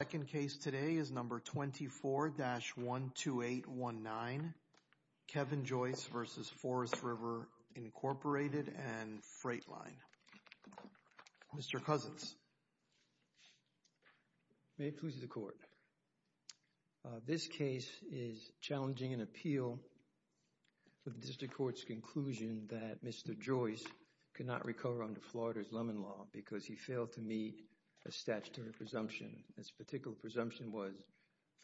The second case today is No. 24-12819, Kevin Joyce vv. Forest River, Inc. and Freightline. Mr. Cousins. May it please the Court. This case is challenging an appeal with the District Court's conclusion that Mr. Joyce could not recover under Florida's Lemon Law because he failed to meet a statutory presumption. This particular presumption was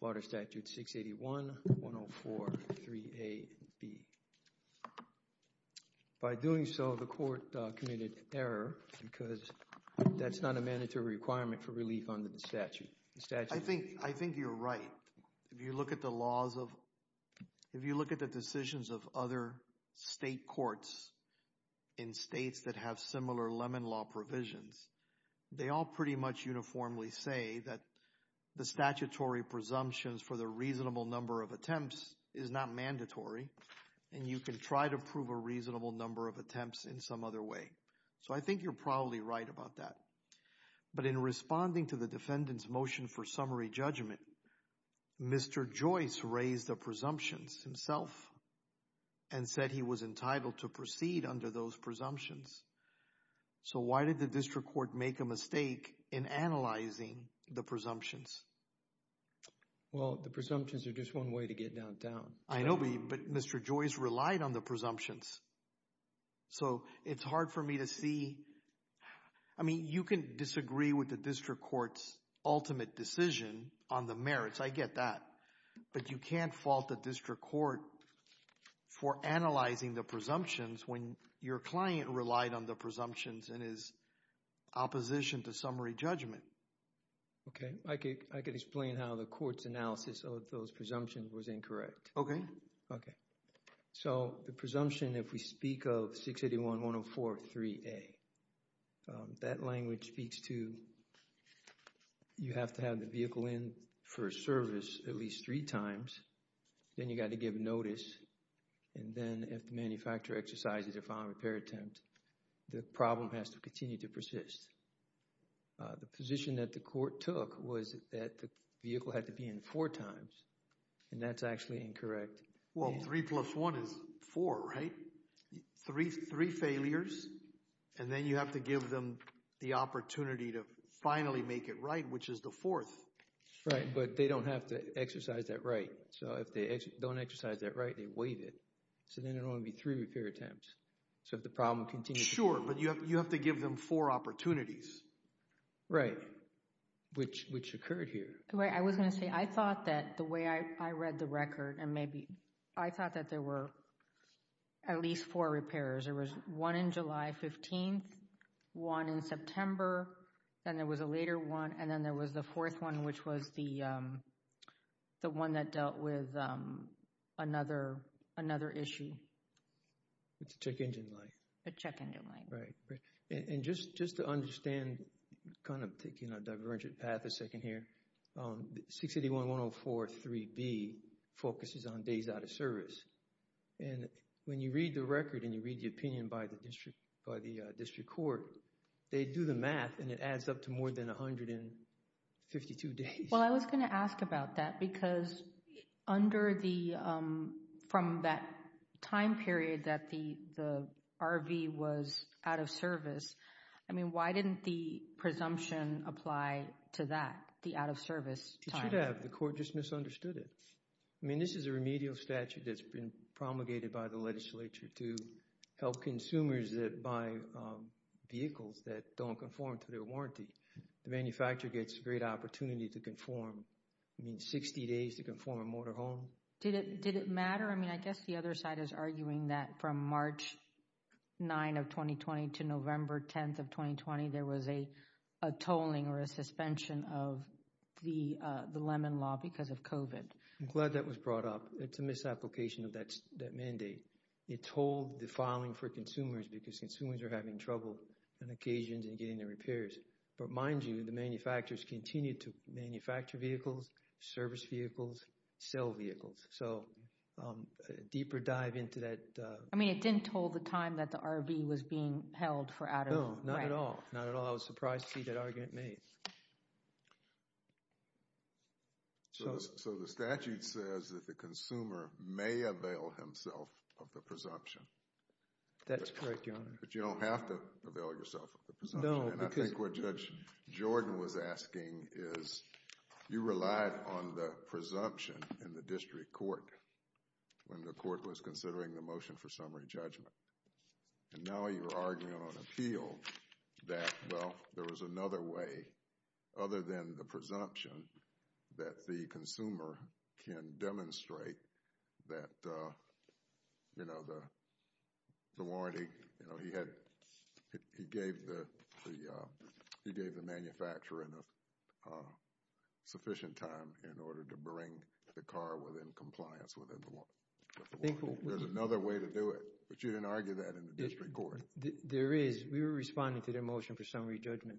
Florida Statute 681-104-3AB. By doing so, the Court committed error because that's not a mandatory requirement for relief under the statute. The statute... I think... I think you're right. If you look at the laws of... If you look at the decisions of other state courts in states that have similar Lemon Law provisions, they all pretty much uniformly say that the statutory presumptions for the reasonable number of attempts is not mandatory and you can try to prove a reasonable number of attempts in some other way. So I think you're probably right about that. But in responding to the defendant's motion for summary judgment, Mr. Joyce raised the presumptions himself and said he was entitled to proceed under those presumptions. So why did the District Court make a mistake in analyzing the presumptions? Well, the presumptions are just one way to get down town. I know, but Mr. Joyce relied on the presumptions. So it's hard for me to see... I mean, you can disagree with the District Court's ultimate decision on the merits. I get that, but you can't fault the District Court for analyzing the presumptions when your client relied on the presumptions in his opposition to summary judgment. Okay. I could explain how the court's analysis of those presumptions was incorrect. Okay. Okay. So the presumption, if we speak of 681.104.3a, that language speaks to you have to have the vehicle in for a service at least three times. Then you've got to give notice, and then if the manufacturer exercises a filing repair attempt, the problem has to continue to persist. The position that the court took was that the vehicle had to be in four times, and that's actually incorrect. Well, three plus one is four, right? Three failures, and then you have to give them the opportunity to finally make it right, which is the fourth. Right. But they don't have to exercise that right. So if they don't exercise that right, they waive it. So then it will only be three repair attempts. So if the problem continues to persist. Sure, but you have to give them four opportunities. Right, which occurred here. I was going to say, I thought that the way I read the record, and maybe, I thought that there were at least four repairs. There was one in July 15th, one in September, then there was a later one, and then there was the fourth one, which was the one that dealt with another issue. It's a check engine light. A check engine light. Right. And just to understand, kind of taking a divergent path a second here, 681.104.3b focuses on days out of service. And when you read the record and you read the opinion by the district court, they do the math, and it adds up to more than 152 days. Well, I was going to ask about that, because from that time period that the RV was out of service, I mean, why didn't the presumption apply to that, the out of service time? It should have. The court just misunderstood it. I mean, this is a remedial statute that's been promulgated by the legislature to help consumers that buy vehicles that don't conform to their warranty. The manufacturer gets a great opportunity to conform. I mean, 60 days to conform a motorhome. Did it matter? I mean, I guess the other side is arguing that from March 9th of 2020 to November 10th of 2020, there was a tolling or a suspension of the Lemon Law because of COVID. I'm glad that was brought up. It's a misapplication of that mandate. It told the filing for consumers because consumers are having trouble on occasions and getting their repairs. But mind you, the manufacturers continue to manufacture vehicles, service vehicles, sell vehicles. So, a deeper dive into that. I mean, it didn't toll the time that the RV was being held for out of— No, not at all. Not at all. I was surprised to see that argument made. So, the statute says that the consumer may avail himself of the presumption. That's correct, Your Honor. But you don't have to avail yourself of the presumption. No, because— And I think what Judge Jordan was asking is, you relied on the presumption in the district court when the court was considering the motion for summary judgment. And now you're arguing on appeal that, well, there was another way other than the presumption that the consumer can demonstrate that, you know, the warranty. You know, he had—he gave the manufacturer enough sufficient time in order to bring the car within compliance with the warranty. There's another way to do it. But you didn't argue that in the district court. There is. We were responding to their motion for summary judgment,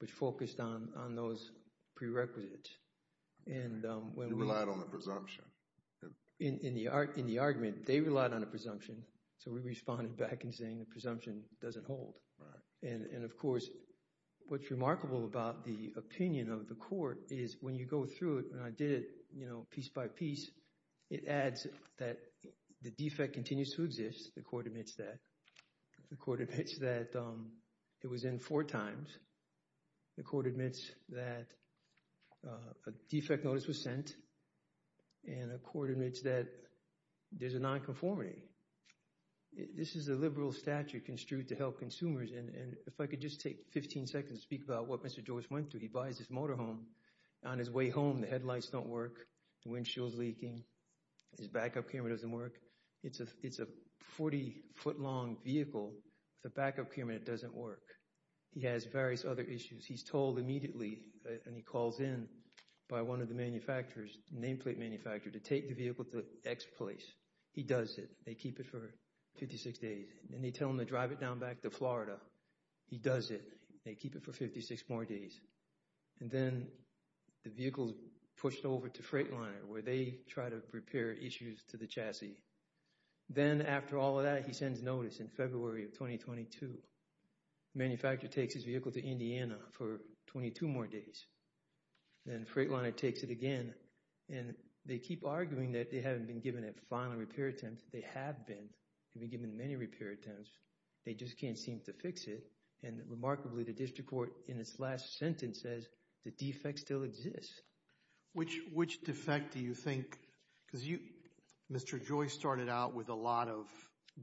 which focused on those prerequisites. And when we— You relied on the presumption. In the argument, they relied on the presumption. So, we responded back in saying the presumption doesn't hold. Right. And, of course, what's remarkable about the opinion of the court is when you go through it, when I did it, you know, piece by piece, it adds that the defect continues to exist. The court admits that. The court admits that it was in four times. The court admits that a defect notice was sent. And the court admits that there's a nonconformity. This is a liberal statute construed to help consumers. And if I could just take 15 seconds to speak about what Mr. Joyce went through. He buys his motorhome. On his way home, the headlights don't work. The windshield's leaking. His backup camera doesn't work. It's a 40-foot-long vehicle with a backup camera that doesn't work. He has various other issues. He's told immediately, and he calls in by one of the manufacturers, nameplate manufacturer, to take the vehicle to X place. He does it. They keep it for 56 days. And they tell him to drive it down back to Florida. He does it. They keep it for 56 more days. And then the vehicle's pushed over to Freightliner, where they try to repair issues to the chassis. Then, after all of that, he sends notice in February of 2022. Manufacturer takes his vehicle to Indiana for 22 more days. Then Freightliner takes it again. And they keep arguing that they haven't been given a final repair attempt. They have been. They've been given many repair attempts. They just can't seem to fix it. And remarkably, the district court, in its last sentence, says the defect still exists. Which defect do you think? Because you, Mr. Joyce, started out with a lot of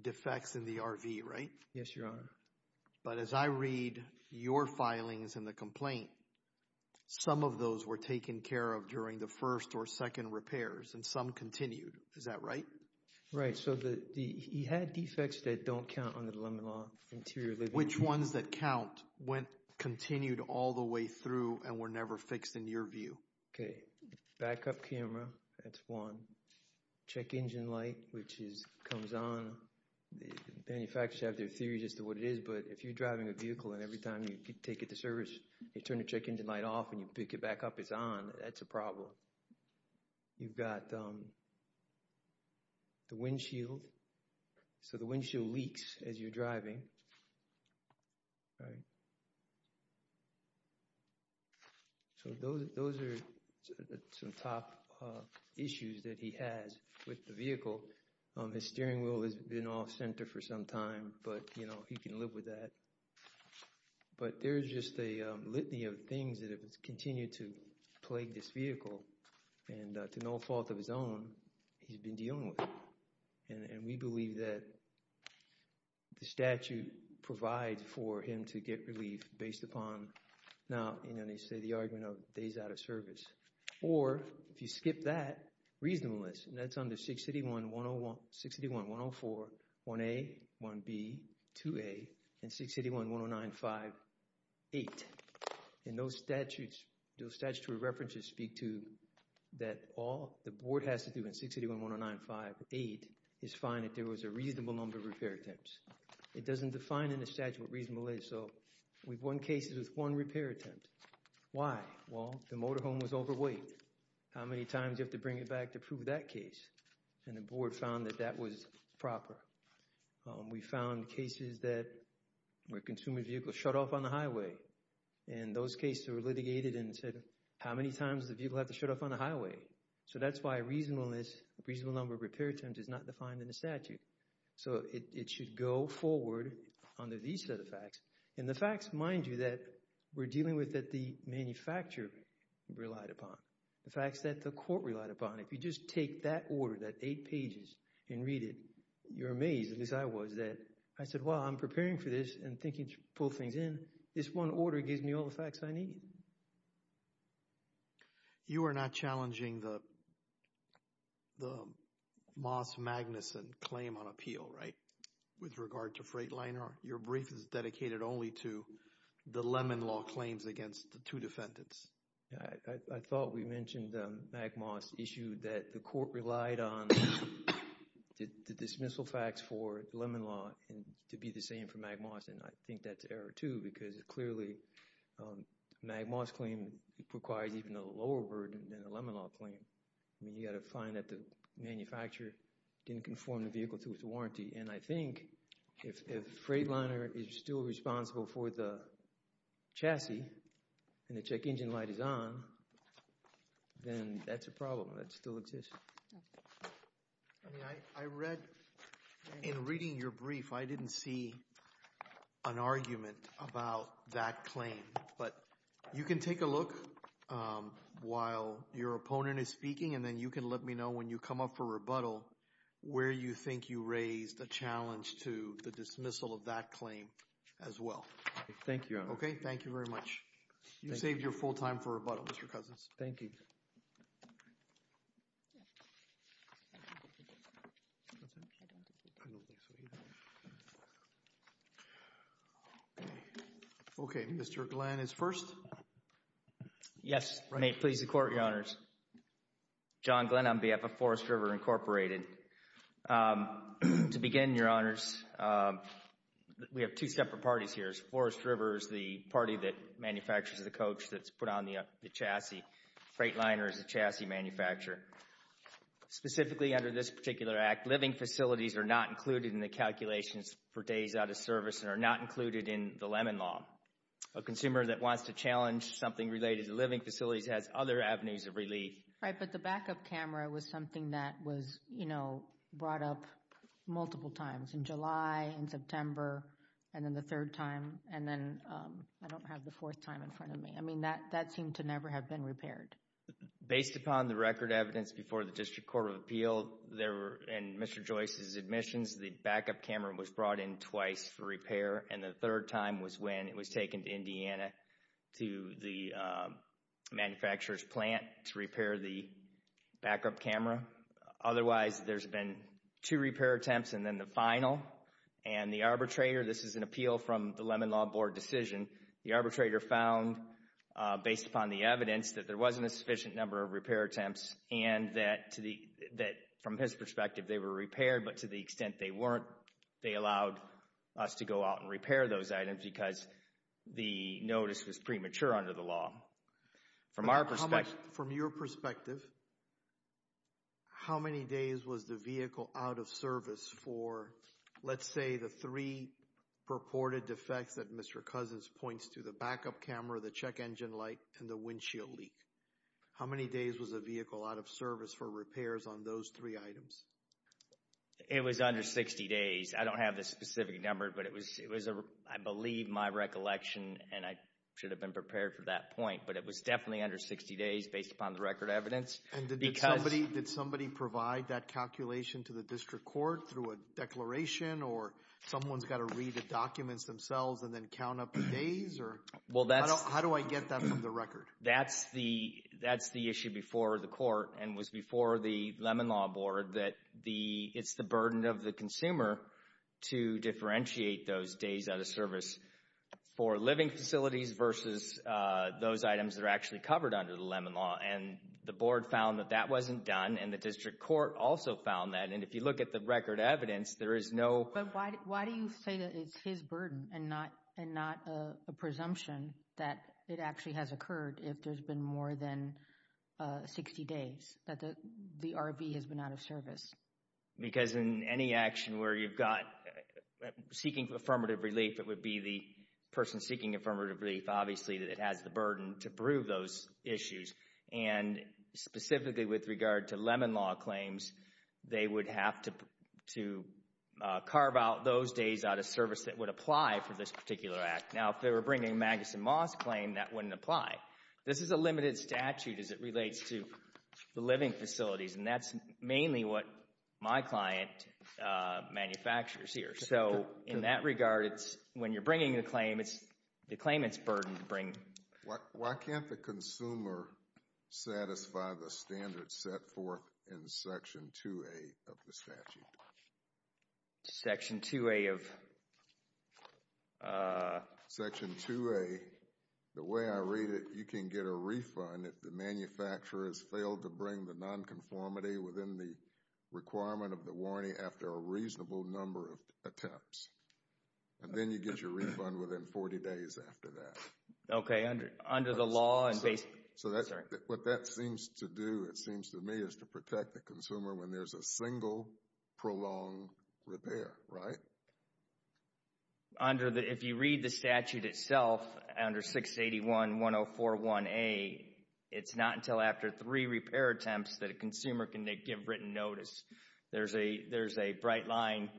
defects in the RV, right? Yes, Your Honor. But as I read your filings in the complaint, some of those were taken care of during the first or second repairs, and some continued. Is that right? Right. So he had defects that don't count under the Lemon Law, interior living. Which ones that count continued all the way through and were never fixed in your view? Okay. Backup camera, that's one. Check engine light, which comes on. Manufacturers have their theory as to what it is, but if you're driving a vehicle and every time you take it to service, you turn the check engine light off and you pick it back up, it's on. That's a problem. You've got the windshield. So the windshield leaks as you're driving, right? So those are some top issues that he has with the vehicle. His steering wheel has been off center for some time, but, you know, he can live with that. But there's just a litany of things that have continued to plague this vehicle, and to no fault of his own, he's been dealing with it. And we believe that the statute provides for him to get relief based upon, now, you know, they say the argument of days out of service. Or if you skip that, reasonableness, and that's under 681-104-1A, 1B, 2A, and 681-109-58. And those statutes, those statutory references speak to that all the board has to do in 681-109-58 is find that there was a reasonable number of repair attempts. It doesn't define in the statute what reasonable is. So we've won cases with one repair attempt. Why? Well, the motorhome was overweight. How many times do you have to bring it back to prove that case? And the board found that that was proper. We found cases where a consumer's vehicle shut off on the highway. And those cases were litigated and said, how many times does the vehicle have to shut off on the highway? So that's why reasonableness, reasonable number of repair attempts is not defined in the statute. So it should go forward under these set of facts. And the facts, mind you, that we're dealing with that the manufacturer relied upon. The facts that the court relied upon. If you just take that order, that eight pages, and read it, you're amazed, at least I was, that I said, well, I'm preparing for this and thinking to pull things in. This one order gives me all the facts I need. You are not challenging the Moss-Magnuson claim on appeal, right, with regard to Freightliner. Your brief is dedicated only to the Lemon Law claims against the two defendants. I thought we mentioned the MagMoss issue, that the court relied on the dismissal facts for the Lemon Law to be the same for MagMoss. And I think that's error, too, because clearly MagMoss claim requires even a lower burden than the Lemon Law claim. I mean, you've got to find that the manufacturer didn't conform the vehicle to its warranty. And I think if Freightliner is still responsible for the chassis and the check engine light is on, then that's a problem. That still exists. I mean, I read in reading your brief, I didn't see an argument about that claim. But you can take a look while your opponent is speaking and then you can let me know when you come up for rebuttal where you think you raised a challenge to the dismissal of that claim as well. Thank you. OK, thank you very much. You saved your full time for rebuttal, Mr. Cousins. Thank you. OK, Mr. Glenn is first. Yes. May it please the Court, Your Honors. John Glenn on behalf of Forest River Incorporated. To begin, Your Honors, we have two separate parties here. Forest River is the party that manufactures the coach that's put on the chassis. Freightliner is the chassis manufacturer. Specifically under this particular act, living facilities are not included in the calculations for days out of service and are not included in the Lemon Law. A consumer that wants to challenge something related to living facilities has other avenues of relief. Right, but the backup camera was something that was, you know, brought up multiple times in July, in September, and then the third time. And then I don't have the fourth time in front of me. I mean, that seemed to never have been repaired. Based upon the record evidence before the District Court of Appeal and Mr. Joyce's admissions, the backup camera was brought in twice for repair. And the third time was when it was taken to Indiana to the manufacturer's plant to repair the backup camera. Otherwise, there's been two repair attempts and then the final. And the arbitrator, this is an appeal from the Lemon Law Board decision, the arbitrator found, based upon the evidence, that there wasn't a sufficient number of repair attempts. And that, from his perspective, they were repaired, but to the extent they weren't, they allowed us to go out and repair those items because the notice was premature under the law. From our perspective. From your perspective, how many days was the vehicle out of service for, let's say, the three purported defects that Mr. Cousins points to, the backup camera, the check engine light, and the windshield leak? How many days was the vehicle out of service for repairs on those three items? It was under 60 days. I don't have the specific number, but it was, I believe, my recollection and I should have been prepared for that point. But it was definitely under 60 days based upon the record evidence. Did somebody provide that calculation to the District Court through a declaration or someone's got to read the documents themselves and then count up the days? How do I get that into the record? That's the issue before the Court and was before the Lemon Law Board, that it's the burden of the consumer to differentiate those days out of service for living facilities versus those items that are actually covered under the Lemon Law. And the Board found that that wasn't done, and the District Court also found that. And if you look at the record evidence, there is no — But why do you say that it's his burden and not a presumption that it actually has occurred if there's been more than 60 days, that the RV has been out of service? Because in any action where you've got seeking affirmative relief, it would be the person seeking affirmative relief, obviously, that it has the burden to prove those issues. And specifically with regard to Lemon Law claims, they would have to carve out those days out of service that would apply for this particular act. Now, if they were bringing a Magus and Moss claim, that wouldn't apply. This is a limited statute as it relates to the living facilities, and that's mainly what my client manufactures here. So in that regard, when you're bringing the claim, it's the claimant's burden to bring. Why can't the consumer satisfy the standards set forth in Section 2A of the statute? Section 2A of? Section 2A, the way I read it, you can get a refund if the manufacturer has failed to bring the nonconformity within the requirement of the warranty after a reasonable number of attempts. And then you get your refund within 40 days after that. Okay, under the law. So what that seems to do, it seems to me, is to protect the consumer when there's a single prolonged repair, right? If you read the statute itself, under 681.104.1A, it's not until after three repair attempts that a consumer can give written notice. There's a bright line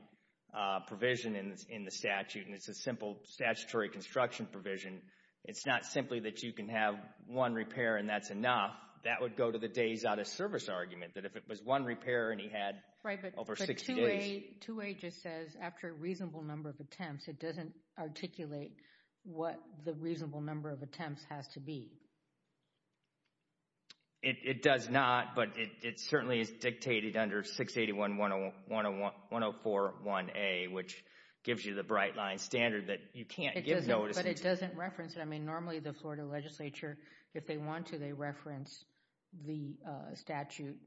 provision in the statute, and it's a simple statutory construction provision. It's not simply that you can have one repair and that's enough. That would go to the days out of service argument, that if it was one repair and he had over 60 days. Right, but 2A just says after a reasonable number of attempts, it doesn't articulate what the reasonable number of attempts has to be. It does not, but it certainly is dictated under 681.104.1A, which gives you the bright line standard that you can't give notices. But it doesn't reference it. I mean, normally the Florida legislature, if they want to, they reference the statute.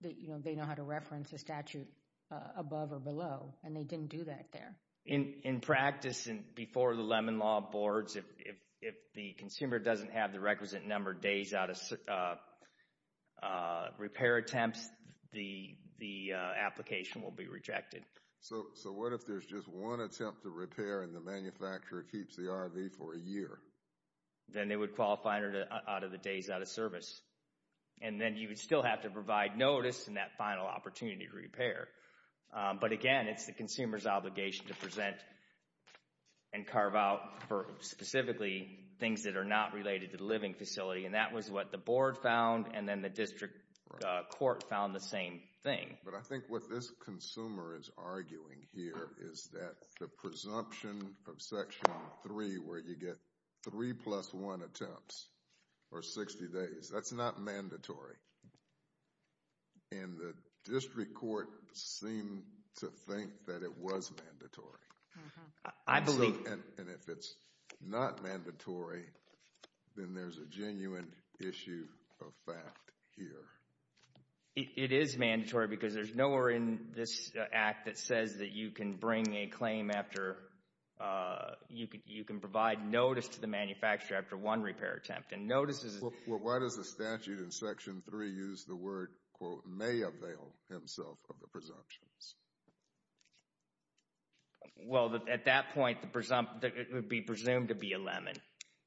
They know how to reference the statute above or below, and they didn't do that there. In practice, before the Lemon Law boards, if the consumer doesn't have the requisite number of days out of repair attempts, the application will be rejected. So what if there's just one attempt to repair and the manufacturer keeps the RV for a year? Then they would qualify out of the days out of service, and then you would still have to provide notice in that final opportunity to repair. But again, it's the consumer's obligation to present and carve out for specifically things that are not related to the living facility. And that was what the board found, and then the district court found the same thing. But I think what this consumer is arguing here is that the presumption of Section 3, where you get 3 plus 1 attempts, or 60 days, that's not mandatory. And the district court seemed to think that it was mandatory. I believe— And if it's not mandatory, then there's a genuine issue of fact here. It is mandatory because there's nowhere in this Act that says that you can bring a claim after—you can provide notice to the manufacturer after one repair attempt. Well, why does the statute in Section 3 use the word, quote, may avail himself of the presumptions? Well, at that point, it would be presumed to be a lemon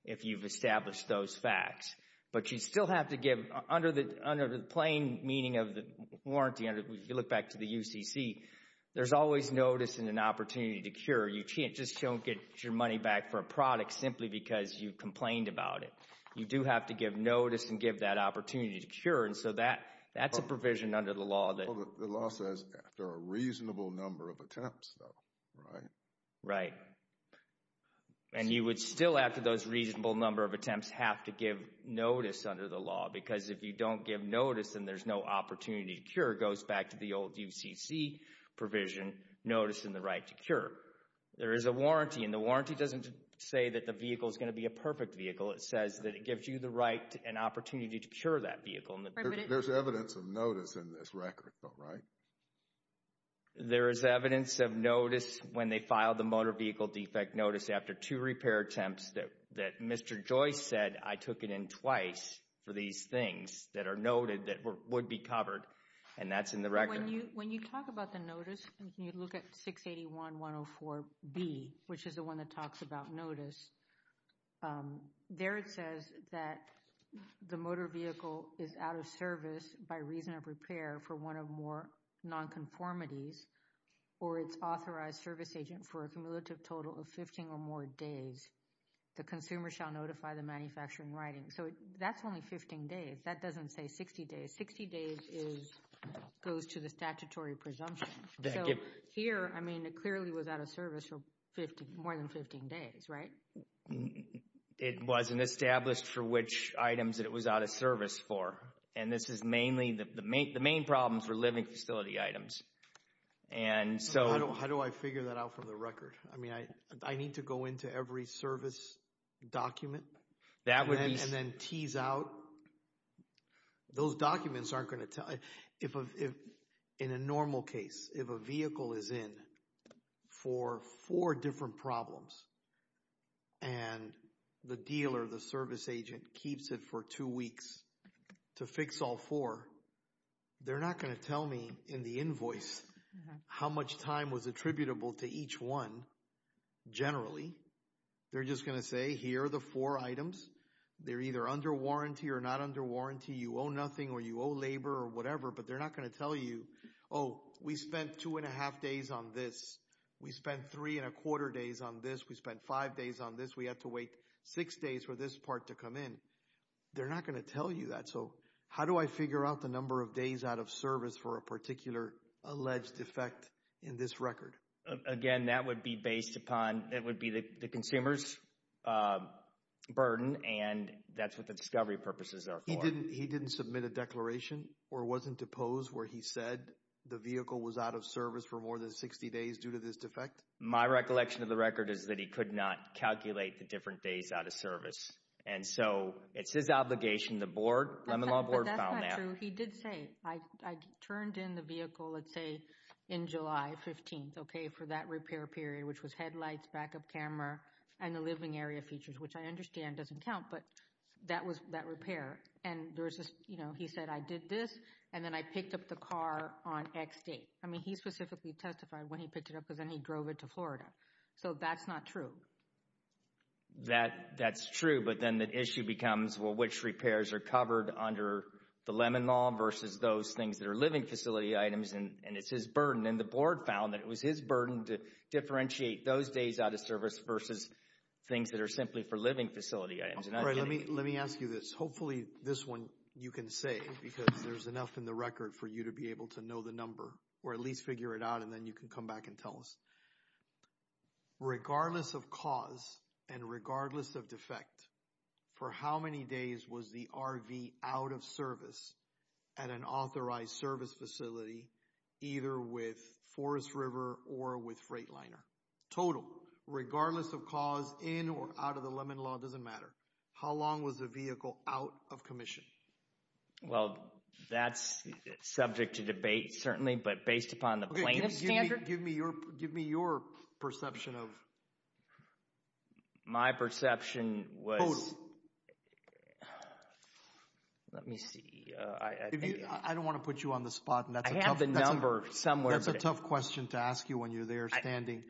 if you've established those facts. But you still have to give—under the plain meaning of the warranty, if you look back to the UCC, there's always notice and an opportunity to cure. You just don't get your money back for a product simply because you complained about it. You do have to give notice and give that opportunity to cure. And so that's a provision under the law that— Well, the law says after a reasonable number of attempts, though, right? Right. And you would still, after those reasonable number of attempts, have to give notice under the law. Because if you don't give notice and there's no opportunity to cure, it goes back to the old UCC provision, notice and the right to cure. There is a warranty, and the warranty doesn't say that the vehicle is going to be a perfect vehicle. It says that it gives you the right and opportunity to cure that vehicle. There's evidence of notice in this record, though, right? There is evidence of notice when they filed the motor vehicle defect notice after two repair attempts that Mr. Joyce said, I took it in twice for these things that are noted that would be covered. And that's in the record. When you talk about the notice, when you look at 681-104-B, which is the one that talks about notice, there it says that the motor vehicle is out of service by reason of repair for one of more nonconformities or its authorized service agent for a cumulative total of 15 or more days. The consumer shall notify the manufacturer in writing. So that's only 15 days. That doesn't say 60 days. Sixty days goes to the statutory presumption. So here, I mean, it clearly was out of service for more than 15 days, right? It wasn't established for which items it was out of service for. And this is mainly, the main problems were living facility items. How do I figure that out from the record? I mean, I need to go into every service document and then tease out. Those documents aren't going to tell. In a normal case, if a vehicle is in for four different problems, and the dealer, the service agent, keeps it for two weeks to fix all four, they're not going to tell me in the invoice how much time was attributable to each one generally. They're just going to say, here are the four items. They're either under warranty or not under warranty. You owe nothing or you owe labor or whatever, but they're not going to tell you, oh, we spent two and a half days on this. We spent three and a quarter days on this. We spent five days on this. We had to wait six days for this part to come in. They're not going to tell you that. So how do I figure out the number of days out of service for a particular alleged defect in this record? Again, that would be based upon, it would be the consumer's burden, and that's what the discovery purposes are for. He didn't submit a declaration or wasn't deposed where he said the vehicle was out of service for more than 60 days due to this defect? My recollection of the record is that he could not calculate the different days out of service. And so it's his obligation, the board, the Lemon Law Board found that. But that's not true. So he did say, I turned in the vehicle, let's say, in July 15th, okay, for that repair period, which was headlights, backup camera, and the living area features, which I understand doesn't count, but that was that repair. And he said, I did this, and then I picked up the car on X date. I mean, he specifically testified when he picked it up because then he drove it to Florida. So that's not true. That's true, but then the issue becomes, well, which repairs are covered under the Lemon Law versus those things that are living facility items, and it's his burden. And the board found that it was his burden to differentiate those days out of service versus things that are simply for living facility items. All right, let me ask you this. Hopefully this one you can say because there's enough in the record for you to be able to know the number, or at least figure it out, and then you can come back and tell us. Regardless of cause and regardless of defect, for how many days was the RV out of service at an authorized service facility, either with Forest River or with Freightliner? Total, regardless of cause, in or out of the Lemon Law, doesn't matter. How long was the vehicle out of commission? Well, that's subject to debate, certainly, but based upon the plaintiff's standard. Give me your perception of… My perception was… Let me see. I don't want to put you on the spot. I have the number somewhere. That's a tough question to ask you when you're there standing.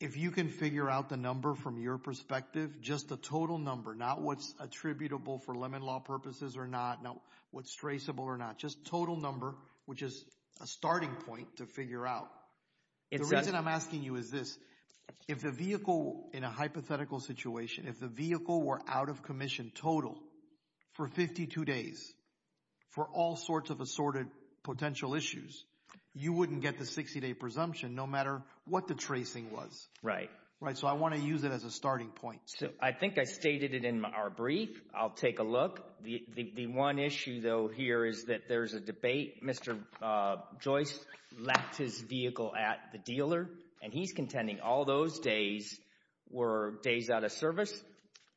If you can figure out the number from your perspective, just the total number, not what's attributable for Lemon Law purposes or not, not what's traceable or not, just total number, which is a starting point to figure out. The reason I'm asking you is this. If the vehicle, in a hypothetical situation, if the vehicle were out of commission total for 52 days for all sorts of assorted potential issues, you wouldn't get the 60-day presumption no matter what the tracing was. Right. So I want to use it as a starting point. I think I stated it in our brief. I'll take a look. The one issue, though, here is that there's a debate. Mr. Joyce lacked his vehicle at the dealer, and he's contending all those days were days out of service.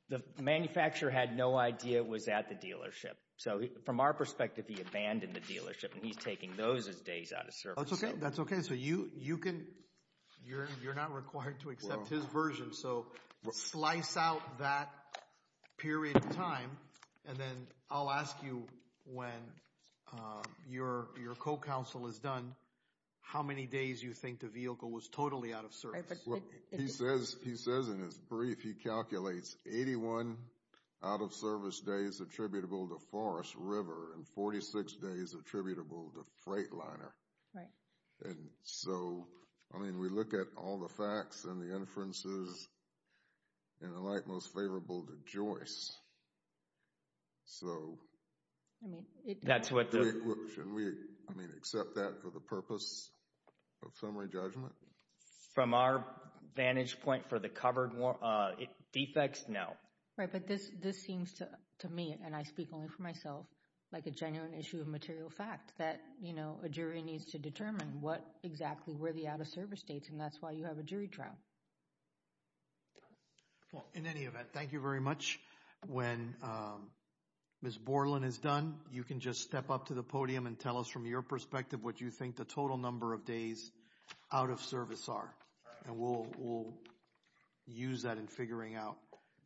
The manufacturer had no idea it was at the dealership. So from our perspective, he abandoned the dealership, and he's taking those as days out of service. That's okay. So you can—you're not required to accept his version. So slice out that period of time, and then I'll ask you when your co-counsel is done, how many days you think the vehicle was totally out of service. He says in his brief he calculates 81 out-of-service days attributable to Forest River and 46 days attributable to Freightliner. Right. And so, I mean, we look at all the facts and the inferences in the light most favorable to Joyce. So— I mean— That's what the— Shouldn't we, I mean, accept that for the purpose of summary judgment? From our vantage point for the covered defects, no. Right, but this seems to me, and I speak only for myself, like a genuine issue of material fact, that, you know, a jury needs to determine what exactly were the out-of-service dates, and that's why you have a jury trial. Well, in any event, thank you very much. When Ms. Borland is done, you can just step up to the podium and tell us from your perspective what you think the total number of days out of service are, and we'll use that in figuring out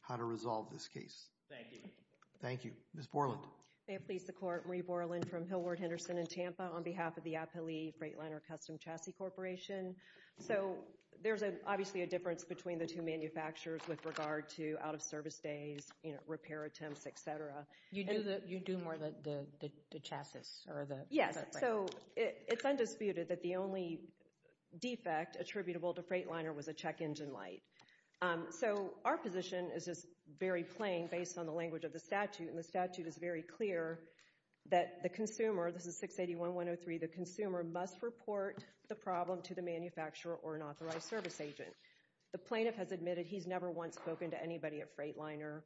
how to resolve this case. Thank you. Thank you. Ms. Borland. May it please the Court. Marie Borland from Hillward Henderson in Tampa on behalf of the Appali Freightliner Custom Chassis Corporation. So there's obviously a difference between the two manufacturers with regard to out-of-service days, you know, repair attempts, et cetera. You do more of the chassis or the— Yes, so it's undisputed that the only defect attributable to Freightliner was a check engine light. So our position is just very plain based on the language of the statute, and the statute is very clear that the consumer—this is 681.103— the consumer must report the problem to the manufacturer or an authorized service agent. The plaintiff has admitted he's never once spoken to anybody at Freightliner,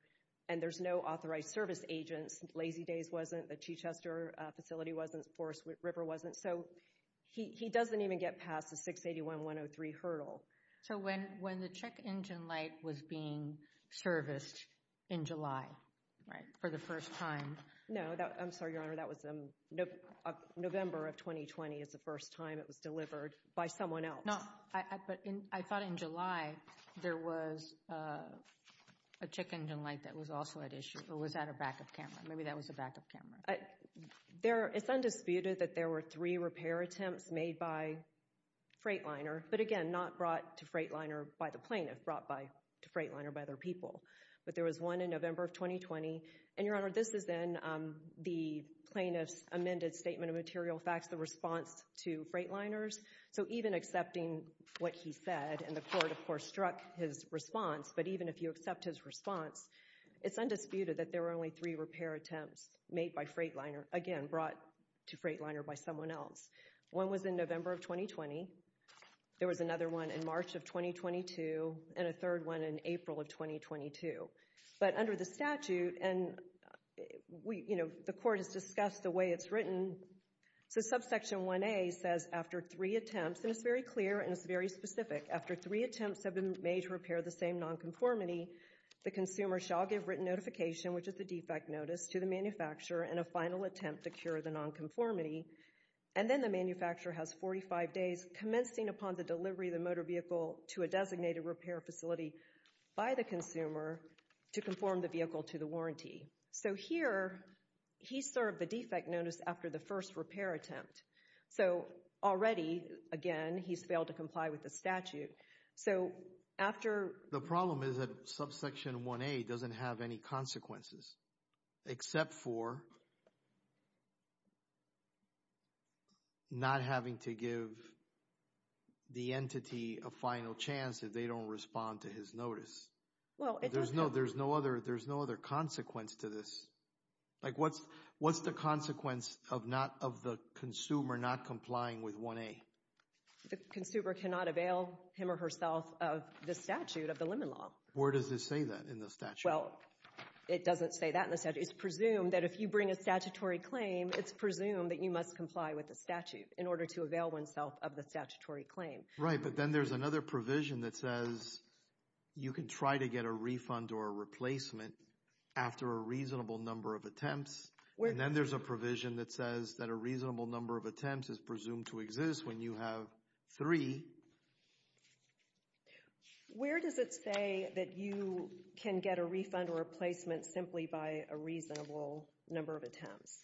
and there's no authorized service agents. Lazy Days wasn't. The Chichester facility wasn't. Forest River wasn't. So he doesn't even get past the 681.103 hurdle. So when the check engine light was being serviced in July, right, for the first time— No, I'm sorry, Your Honor, that was November of 2020 is the first time it was delivered by someone else. No, but I thought in July there was a check engine light that was also at issue, or was at a backup camera. Maybe that was a backup camera. It's undisputed that there were three repair attempts made by Freightliner, but, again, not brought to Freightliner by the plaintiff, brought to Freightliner by other people. But there was one in November of 2020. And, Your Honor, this is then the plaintiff's amended statement of material facts, the response to Freightliners. So even accepting what he said, and the court, of course, struck his response, but even if you accept his response, it's undisputed that there were only three repair attempts made by Freightliner, again, brought to Freightliner by someone else. One was in November of 2020. There was another one in March of 2022, and a third one in April of 2022. But under the statute, and, you know, the court has discussed the way it's written, so subsection 1A says, after three attempts, and it's very clear and it's very specific, after three attempts have been made to repair the same nonconformity, the consumer shall give written notification, which is the defect notice, to the manufacturer in a final attempt to cure the nonconformity. And then the manufacturer has 45 days commencing upon the delivery of the motor vehicle to a designated repair facility by the consumer to conform the vehicle to the warranty. So here he served the defect notice after the first repair attempt. So already, again, he's failed to comply with the statute. So after... The problem is that subsection 1A doesn't have any consequences, except for not having to give the entity a final chance if they don't respond to his notice. There's no other consequence to this. Like, what's the consequence of the consumer not complying with 1A? The consumer cannot avail him or herself of the statute of the Lemon Law. Where does it say that in the statute? Well, it doesn't say that in the statute. It's presumed that if you bring a statutory claim, it's presumed that you must comply with the statute in order to avail oneself of the statutory claim. Right, but then there's another provision that says you can try to get a refund or a replacement after a reasonable number of attempts. And then there's a provision that says that a reasonable number of attempts is presumed to exist when you have three. Where does it say that you can get a refund or a replacement simply by a reasonable number of attempts?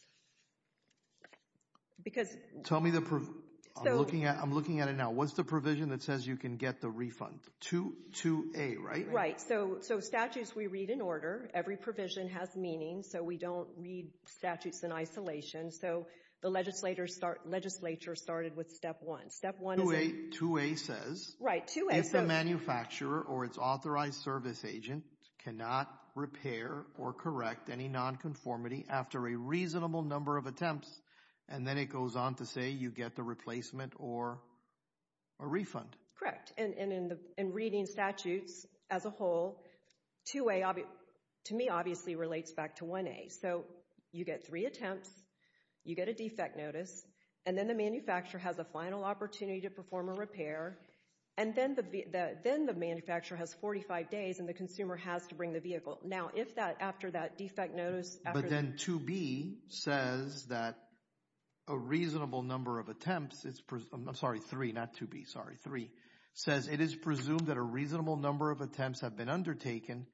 Because... Tell me the... I'm looking at it now. What's the provision that says you can get the refund? 2A, right? Right, so statutes we read in order. Every provision has meaning, so we don't read statutes in isolation. So the legislature started with Step 1. Step 1 is... 2A says... Right, 2A says... If the manufacturer or its authorized service agent cannot repair or correct any nonconformity after a reasonable number of attempts, and then it goes on to say you get the replacement or a refund. Correct, and in reading statutes as a whole, 2A to me obviously relates back to 1A. So you get three attempts, you get a defect notice, and then the manufacturer has a final opportunity to perform a repair, and then the manufacturer has 45 days and the consumer has to bring the vehicle. Now, if after that defect notice... But then 2B says that a reasonable number of attempts is... I'm sorry, 3, not 2B, sorry, 3. It says it is presumed that a reasonable number of attempts have been undertaken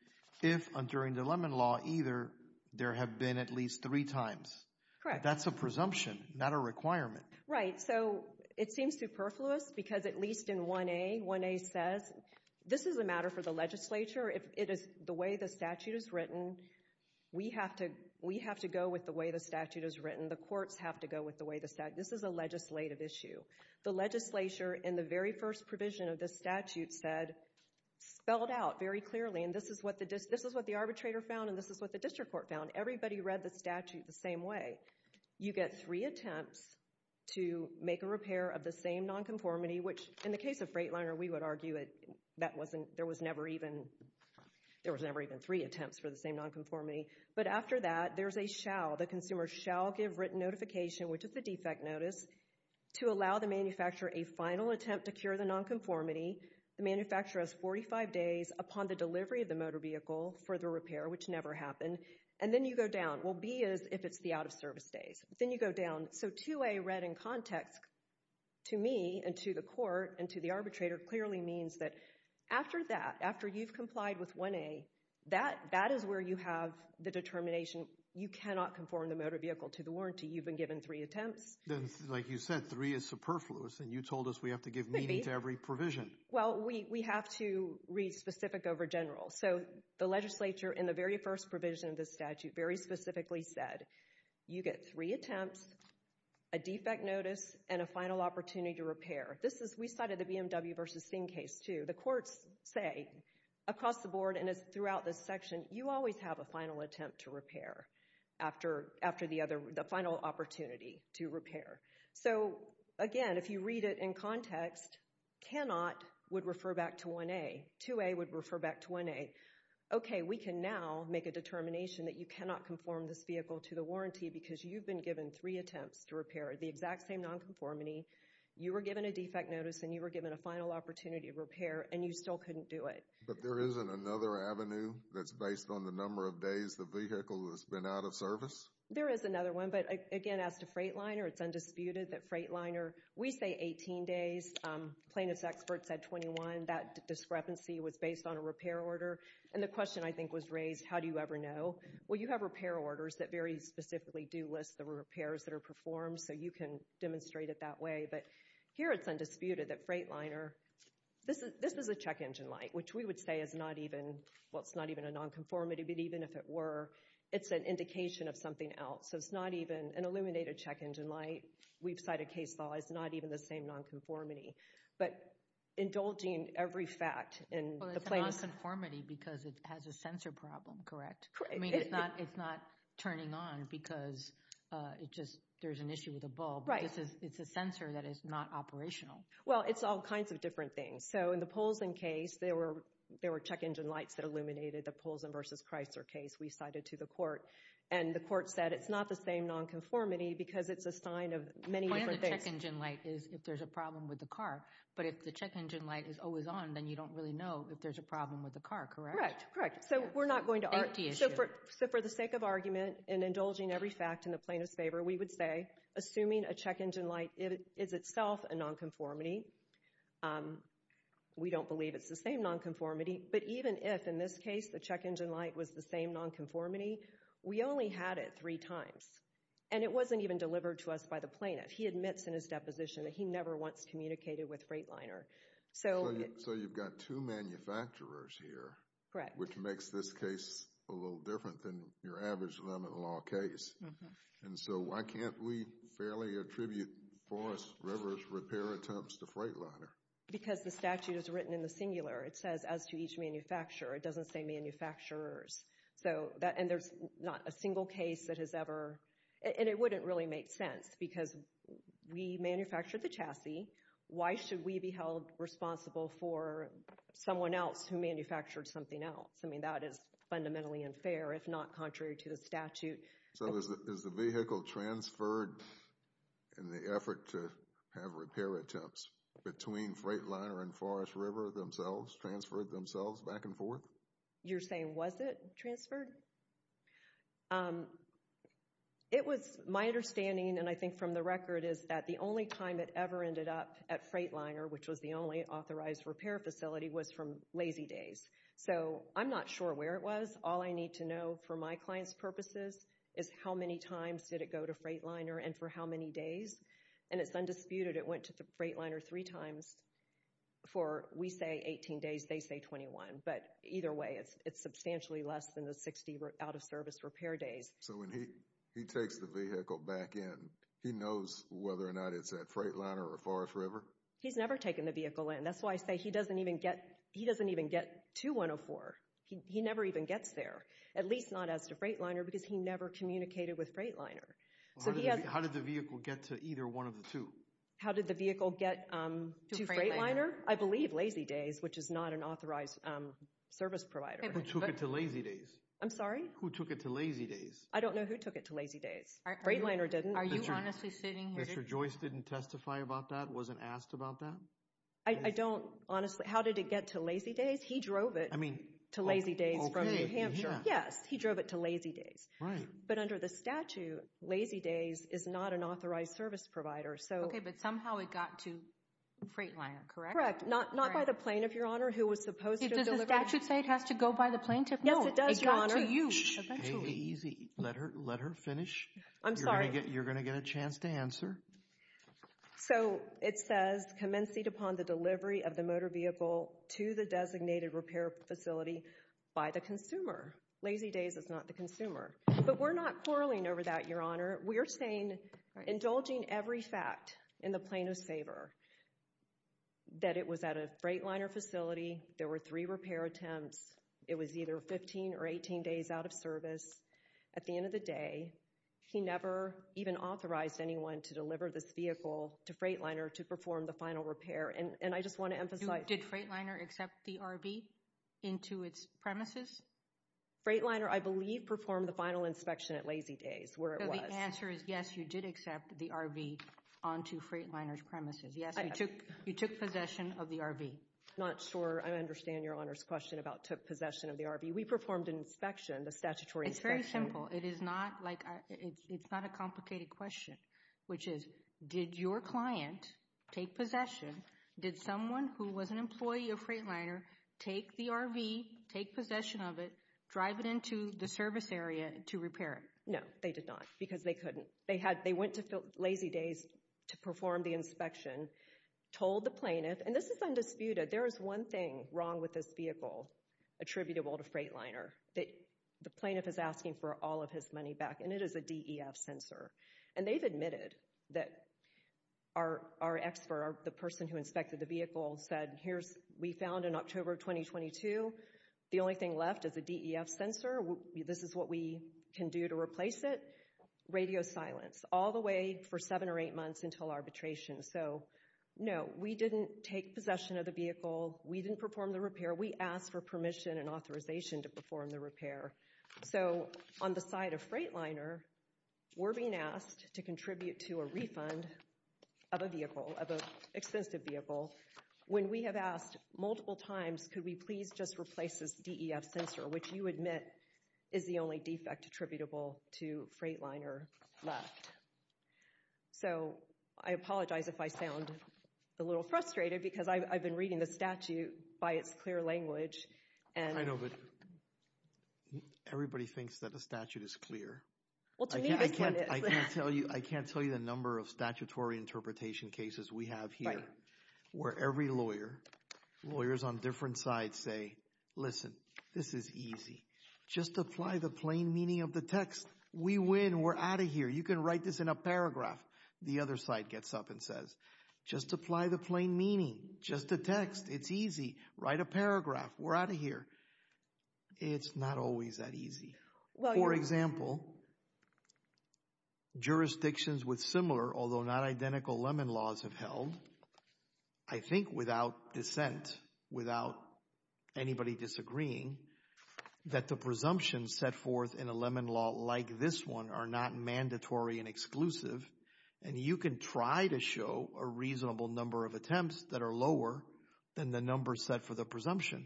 if and during the Lemon Law either there have been at least three times. Correct. That's a presumption, not a requirement. Right, so it seems superfluous because at least in 1A, 1A says this is a matter for the legislature. If it is the way the statute is written, we have to go with the way the statute is written. The courts have to go with the way the statute... This is a legislative issue. The legislature in the very first provision of this statute said, spelled out very clearly, and this is what the arbitrator found and this is what the district court found. Everybody read the statute the same way. You get three attempts to make a repair of the same nonconformity, which in the case of Freightliner, we would argue there was never even three attempts for the same nonconformity. But after that, there's a shall. The consumer shall give written notification, which is the defect notice, to allow the manufacturer a final attempt to cure the nonconformity. The manufacturer has 45 days upon the delivery of the motor vehicle for the repair, which never happened, and then you go down. Well, B is if it's the out-of-service days. Then you go down. So 2A read in context to me and to the court and to the arbitrator clearly means that after that, after you've complied with 1A, that is where you have the determination you cannot conform the motor vehicle to the warranty. You've been given three attempts. Like you said, three is superfluous, and you told us we have to give meaning to every provision. Well, we have to read specific over general. So the legislature, in the very first provision of the statute, very specifically said, you get three attempts, a defect notice, and a final opportunity to repair. We cited the BMW v. Singh case too. The courts say across the board and throughout this section, you always have a final attempt to repair after the final opportunity to repair. So, again, if you read it in context, cannot would refer back to 1A. 2A would refer back to 1A. Okay, we can now make a determination that you cannot conform this vehicle to the warranty because you've been given three attempts to repair the exact same nonconformity. You were given a defect notice, and you were given a final opportunity to repair, and you still couldn't do it. But there isn't another avenue that's based on the number of days the vehicle has been out of service? There is another one. But, again, as to Freightliner, it's undisputed that Freightliner, we say 18 days. Plaintiff's experts said 21. That discrepancy was based on a repair order. And the question, I think, was raised, how do you ever know? Well, you have repair orders that very specifically do list the repairs that are performed, so you can demonstrate it that way. But here it's undisputed that Freightliner, this is a check engine light, which we would say is not even, well, it's not even a nonconformity, but even if it were, it's an indication of something else. So it's not even an illuminated check engine light. We've cited case law, it's not even the same nonconformity. But indulging in every fact in the plaintiff's. Well, it's a nonconformity because it has a sensor problem, correct? Correct. I mean, it's not turning on because there's an issue with the bulb. Right. It's a sensor that is not operational. Well, it's all kinds of different things. So in the Polson case, there were check engine lights that illuminated the Polson v. Chrysler case we cited to the court. And the court said it's not the same nonconformity because it's a sign of many different things. The point of the check engine light is if there's a problem with the car. But if the check engine light is always on, then you don't really know if there's a problem with the car, correct? Correct, correct. So we're not going to argue. Safety issue. So for the sake of argument and indulging every fact in the plaintiff's favor, we would say assuming a check engine light is itself a nonconformity, we don't believe it's the same nonconformity. But even if, in this case, the check engine light was the same nonconformity, we only had it three times. And it wasn't even delivered to us by the plaintiff. He admits in his deposition that he never once communicated with Freightliner. So you've got two manufacturers here. Correct. Which makes this case a little different than your average limit law case. And so why can't we fairly attribute Forest River's repair attempts to Freightliner? Because the statute is written in the singular. It says as to each manufacturer. It doesn't say manufacturers. So that, and there's not a single case that has ever, and it wouldn't really make sense because we manufactured the chassis. Why should we be held responsible for someone else who manufactured something else? I mean, that is fundamentally unfair, if not contrary to the statute. So is the vehicle transferred in the effort to have repair attempts between Freightliner and Forest River themselves, transferred themselves back and forth? You're saying was it transferred? It was, my understanding, and I think from the record, is that the only time it ever ended up at Freightliner, which was the only authorized repair facility, was from Lazy Days. So I'm not sure where it was. All I need to know for my client's purposes is how many times did it go to Freightliner and for how many days. And it's undisputed it went to Freightliner three times for, we say 18 days, they say 21. But either way, it's substantially less than the 60 out-of-service repair days. So when he takes the vehicle back in, he knows whether or not it's at Freightliner or Forest River? He's never taken the vehicle in. That's why I say he doesn't even get to 104. He never even gets there, at least not as to Freightliner because he never communicated with Freightliner. How did the vehicle get to either one of the two? How did the vehicle get to Freightliner? I believe Lazy Days, which is not an authorized service provider. Who took it to Lazy Days? I'm sorry? Who took it to Lazy Days? I don't know who took it to Lazy Days. Freightliner didn't. Are you honestly sitting here? Mr. Joyce didn't testify about that, wasn't asked about that? I don't honestly. How did it get to Lazy Days? He drove it. To Lazy Days from New Hampshire. Yes, he drove it to Lazy Days. But under the statute, Lazy Days is not an authorized service provider. Okay, but somehow it got to Freightliner, correct? Correct. Not by the plane, if Your Honor, who was supposed to have delivered it. Does the statute say it has to go by the plane, Tiffany? Yes, it does, Your Honor. It got to you eventually. Hey, easy. Let her finish. I'm sorry. You're going to get a chance to answer. So, it says, commenced upon the delivery of the motor vehicle to the designated repair facility by the consumer. Lazy Days is not the consumer. But we're not quarreling over that, Your Honor. We're saying, indulging every fact in the plaintiff's favor, that it was at a Freightliner facility. There were three repair attempts. It was either 15 or 18 days out of service. At the end of the day, he never even authorized anyone to deliver this vehicle to Freightliner to perform the final repair. And I just want to emphasize. Did Freightliner accept the RV into its premises? Freightliner, I believe, performed the final inspection at Lazy Days, where it was. So, the answer is, yes, you did accept the RV onto Freightliner's premises. Yes, you took possession of the RV. I'm not sure I understand Your Honor's question about took possession of the RV. We performed an inspection, the statutory inspection. It's very simple. It's not a complicated question, which is, did your client take possession? Did someone who was an employee of Freightliner take the RV, take possession of it, drive it into the service area to repair it? No, they did not, because they couldn't. They went to Lazy Days to perform the inspection, told the plaintiff. And this is undisputed. There is one thing wrong with this vehicle attributable to Freightliner that the plaintiff is asking for all of his money back, and it is a DEF sensor. And they've admitted that our expert, the person who inspected the vehicle, said, we found in October of 2022, the only thing left is a DEF sensor. This is what we can do to replace it. Radio silence all the way for seven or eight months until arbitration. So, no, we didn't take possession of the vehicle. We didn't perform the repair. We asked for permission and authorization to perform the repair. So, on the side of Freightliner, we're being asked to contribute to a refund of a vehicle, of an expensive vehicle, when we have asked multiple times, could we please just replace this DEF sensor, which you admit is the only defect attributable to Freightliner left. So, I apologize if I sound a little frustrated, because I've been reading the statute by its clear language. I know, but everybody thinks that the statute is clear. Well, to me, this one is. I can't tell you the number of statutory interpretation cases we have here, where every lawyer, lawyers on different sides say, listen, this is easy. Just apply the plain meaning of the text. We win. We're out of here. You can write this in a paragraph. The other side gets up and says, just apply the plain meaning. Just a text. It's easy. Write a paragraph. We're out of here. It's not always that easy. For example, jurisdictions with similar, although not identical, lemon laws have held, I think without dissent, without anybody disagreeing, that the presumptions set forth in a lemon law like this one are not mandatory and exclusive, and you can try to show a reasonable number of attempts that are lower than the number set for the presumption.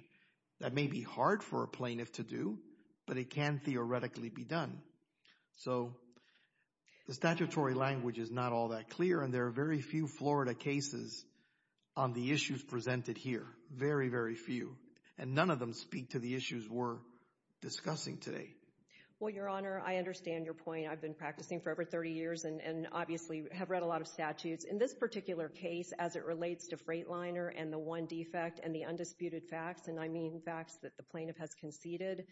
That may be hard for a plaintiff to do, but it can theoretically be done. So, the statutory language is not all that clear, and there are very few Florida cases on the issues presented here, very, very few. And none of them speak to the issues we're discussing today. Well, Your Honor, I understand your point. I've been practicing for over 30 years and obviously have read a lot of statutes. In this particular case, as it relates to Freightliner and the one defect and the undisputed facts, and I mean facts that the plaintiff has conceded,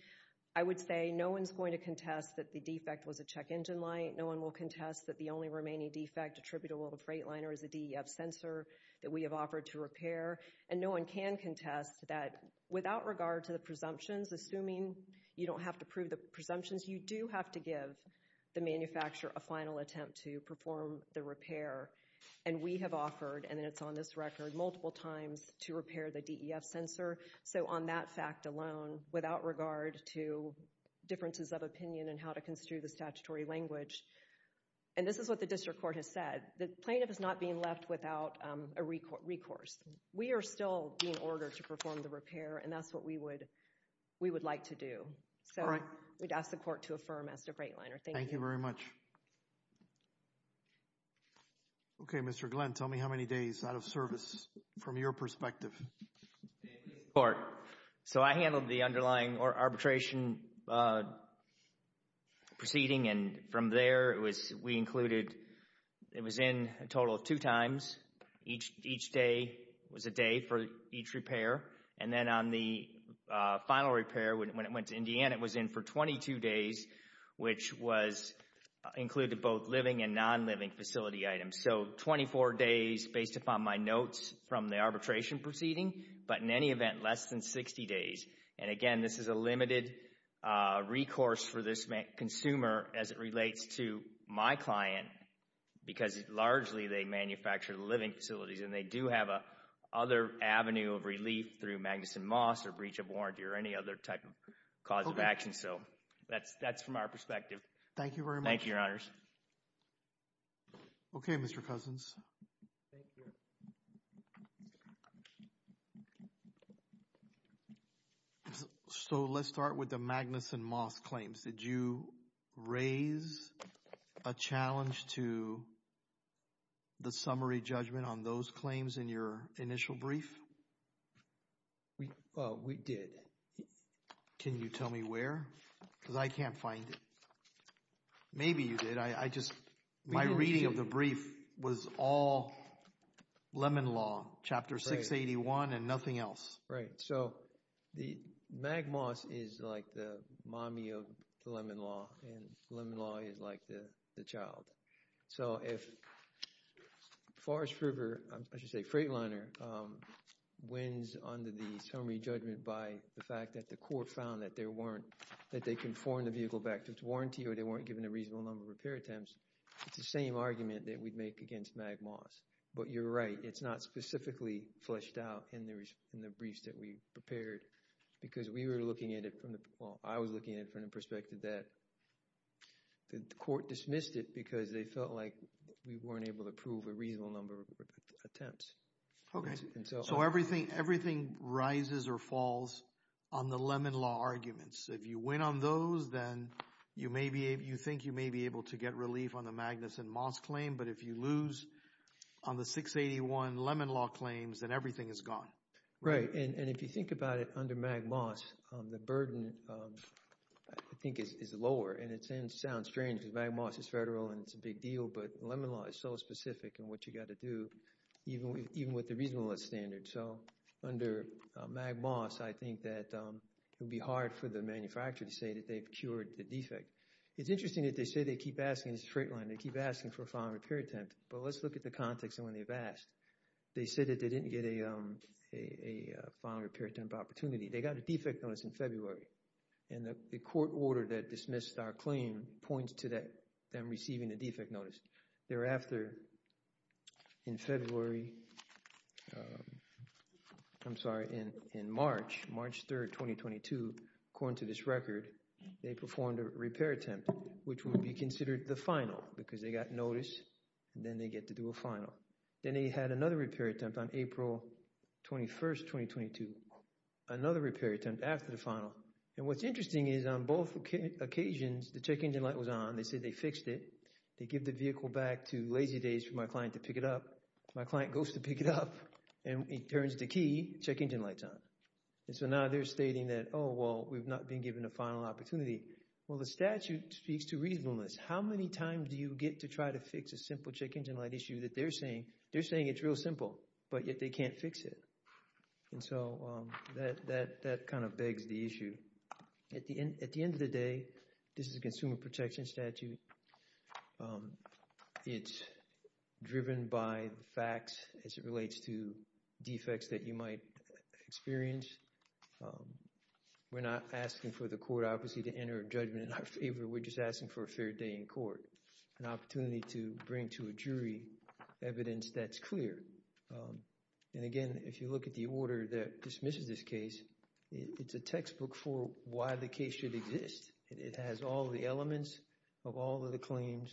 I would say no one's going to contest that the defect was a check engine light. No one will contest that the only remaining defect attributable to Freightliner is a DEF sensor that we have offered to repair. And no one can contest that without regard to the presumptions, assuming you don't have to prove the presumptions, you do have to give the manufacturer a final attempt to perform the repair. And we have offered, and it's on this record, multiple times to repair the DEF sensor. So on that fact alone, without regard to differences of opinion and how to construe the statutory language, and this is what the district court has said, the plaintiff is not being left without a recourse. We are still being ordered to perform the repair, and that's what we would like to do. So we'd ask the court to affirm as to Freightliner. Thank you. Thank you very much. Okay, Mr. Glenn, tell me how many days out of service from your perspective. In this court. So I handled the underlying arbitration proceeding, and from there we included, it was in a total of two times. Each day was a day for each repair. And then on the final repair, when it went to Indiana, it was in for 22 days, which included both living and non-living facility items. So 24 days based upon my notes from the arbitration proceeding, but in any event, less than 60 days. And again, this is a limited recourse for this consumer as it relates to my client because largely they manufacture the living facilities and they do have a other avenue of relief through Magnuson Moss or breach of warranty or any other type of cause of action. So that's from our perspective. Thank you very much. Thank you, Your Honors. Okay, Mr. Cousins. So let's start with the Magnuson Moss claims. Did you raise a challenge to the summary judgment on those claims in your initial brief? We did. Can you tell me where? Because I can't find it. Maybe you did. My reading of the brief was all Lemon Law, Chapter 681 and nothing else. Right. So the Magnuson Moss is like the mommy of the Lemon Law and Lemon Law is like the child. So if Forrest River, I should say Freightliner, wins under the summary judgment by the fact that the court found that they conformed the vehicle back to its warranty or they weren't given a reasonable number of repair attempts, it's the same argument that we'd make against Magnuson Moss. But you're right. It's not specifically fleshed out in the briefs that we prepared because we were looking at it from the perspective that the court dismissed it because they felt like we weren't able to prove a reasonable number of attempts. So everything rises or falls on the Lemon Law arguments. If you win on those, then you think you may be able to get relief on the Magnuson Moss claim. But if you lose on the 681 Lemon Law claims, then everything is gone. Right. And if you think about it under Magnuson Moss, the burden, I think, is lower. And it sounds strange because Magnuson Moss is federal and it's a big deal, but Lemon Law is so specific in what you've got to do, even with the reasonableness standard. So under Magnuson Moss, I think that it would be hard for the manufacturer to say that they've cured the defect. It's interesting that they say they keep asking, it's a straight line, they keep asking for a final repair attempt. But let's look at the context of when they've asked. They said that they didn't get a final repair attempt opportunity. They got a defect notice in February. And the court order that dismissed our claim points to them receiving a defect notice. Thereafter, in February, I'm sorry, in March, March 3, 2022, according to this record, they performed a repair attempt, which would be considered the final because they got notice and then they get to do a final. Then they had another repair attempt on April 21, 2022. Another repair attempt after the final. And what's interesting is on both occasions, the check engine light was on. They said they fixed it. They give the vehicle back to Lazy Days for my client to pick it up. My client goes to pick it up and he turns the key, check engine light's on. And so now they're stating that, oh, well, we've not been given a final opportunity. Well, the statute speaks to reasonableness. How many times do you get to try to fix a simple check engine light issue that they're saying? They're saying it's real simple, but yet they can't fix it. And so that kind of begs the issue. At the end of the day, this is a consumer protection statute. It's driven by facts as it relates to defects that you might experience. We're not asking for the court obviously to enter a judgment in our favor. We're just asking for a fair day in court. An opportunity to bring to a jury evidence that's clear. And again, if you look at the order that dismisses this case, it's a textbook for why the case should exist. It has all the elements of all of the claims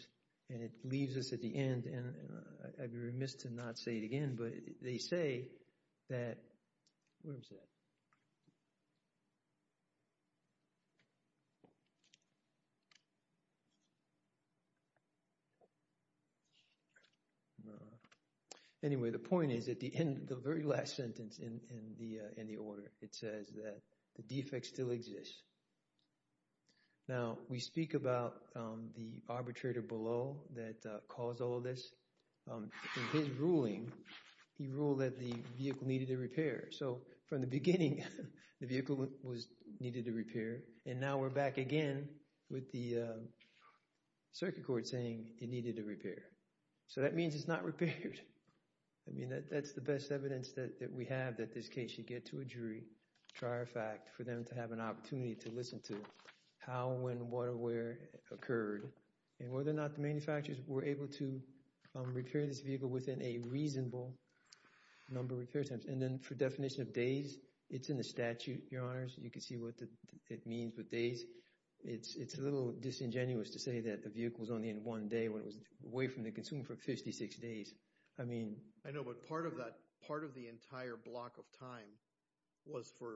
and it leaves us at the end. I'd be remiss to not say it again, but they say that, where is it? Anyway, the point is at the end, the very last sentence in the order, it says that the defects still exist. Now, we speak about the arbitrator below that caused all of this. In his ruling, he ruled that the vehicle needed a repair. So from the beginning, the vehicle needed a repair. And now we're back again with the circuit court saying it needed a repair. So that means it's not repaired. I mean, that's the best evidence that we have that this case should get to a jury. It's a great trier fact for them to have an opportunity to listen to how and when water wear occurred. And whether or not the manufacturers were able to repair this vehicle within a reasonable number of repair times. And then for definition of days, it's in the statute, Your Honors. You can see what it means with days. It's a little disingenuous to say that the vehicle was only in one day when it was away from the consumer for 56 days. I know, but part of the entire block of time was for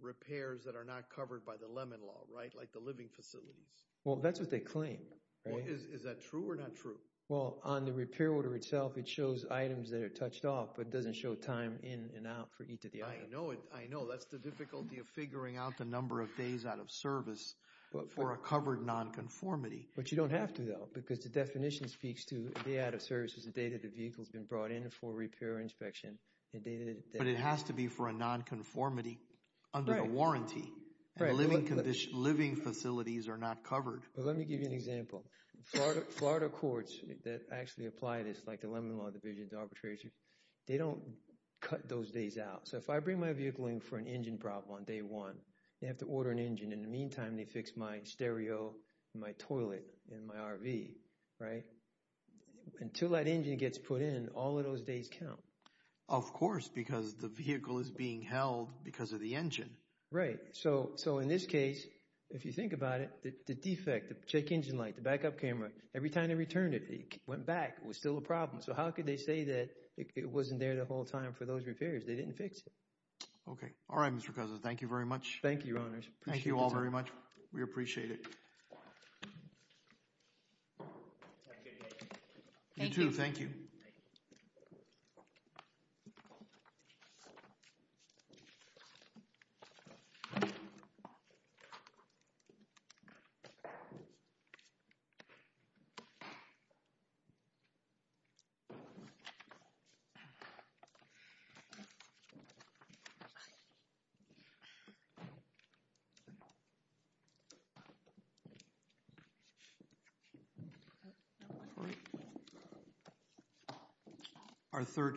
repairs that are not covered by the Lemon Law, right? Like the living facilities. Well, that's what they claim. Is that true or not true? Well, on the repair order itself, it shows items that are touched off, but it doesn't show time in and out for each of the items. I know. That's the difficulty of figuring out the number of days out of service for a covered nonconformity. But you don't have to, though, because the definition speaks to a day out of service is the day that the vehicle has been brought in for a repair inspection. But it has to be for a nonconformity under a warranty. Living facilities are not covered. Let me give you an example. Florida courts that actually apply this, like the Lemon Law Division, the arbitrators, they don't cut those days out. So if I bring my vehicle in for an engine problem on day one, they have to order an engine. In the meantime, they fix my stereo, my toilet, and my RV, right? Until that engine gets put in, all of those days count. Of course, because the vehicle is being held because of the engine. Right. So in this case, if you think about it, the defect, the check engine light, the backup camera, every time they returned it, it went back. It was still a problem. So how could they say that it wasn't there the whole time for those repairs? They didn't fix it. Okay. All right, Mr. Koza. Thank you very much. Thank you, Your Honors. Thank you all very much. We appreciate it. Thank you. Thank you. No problem.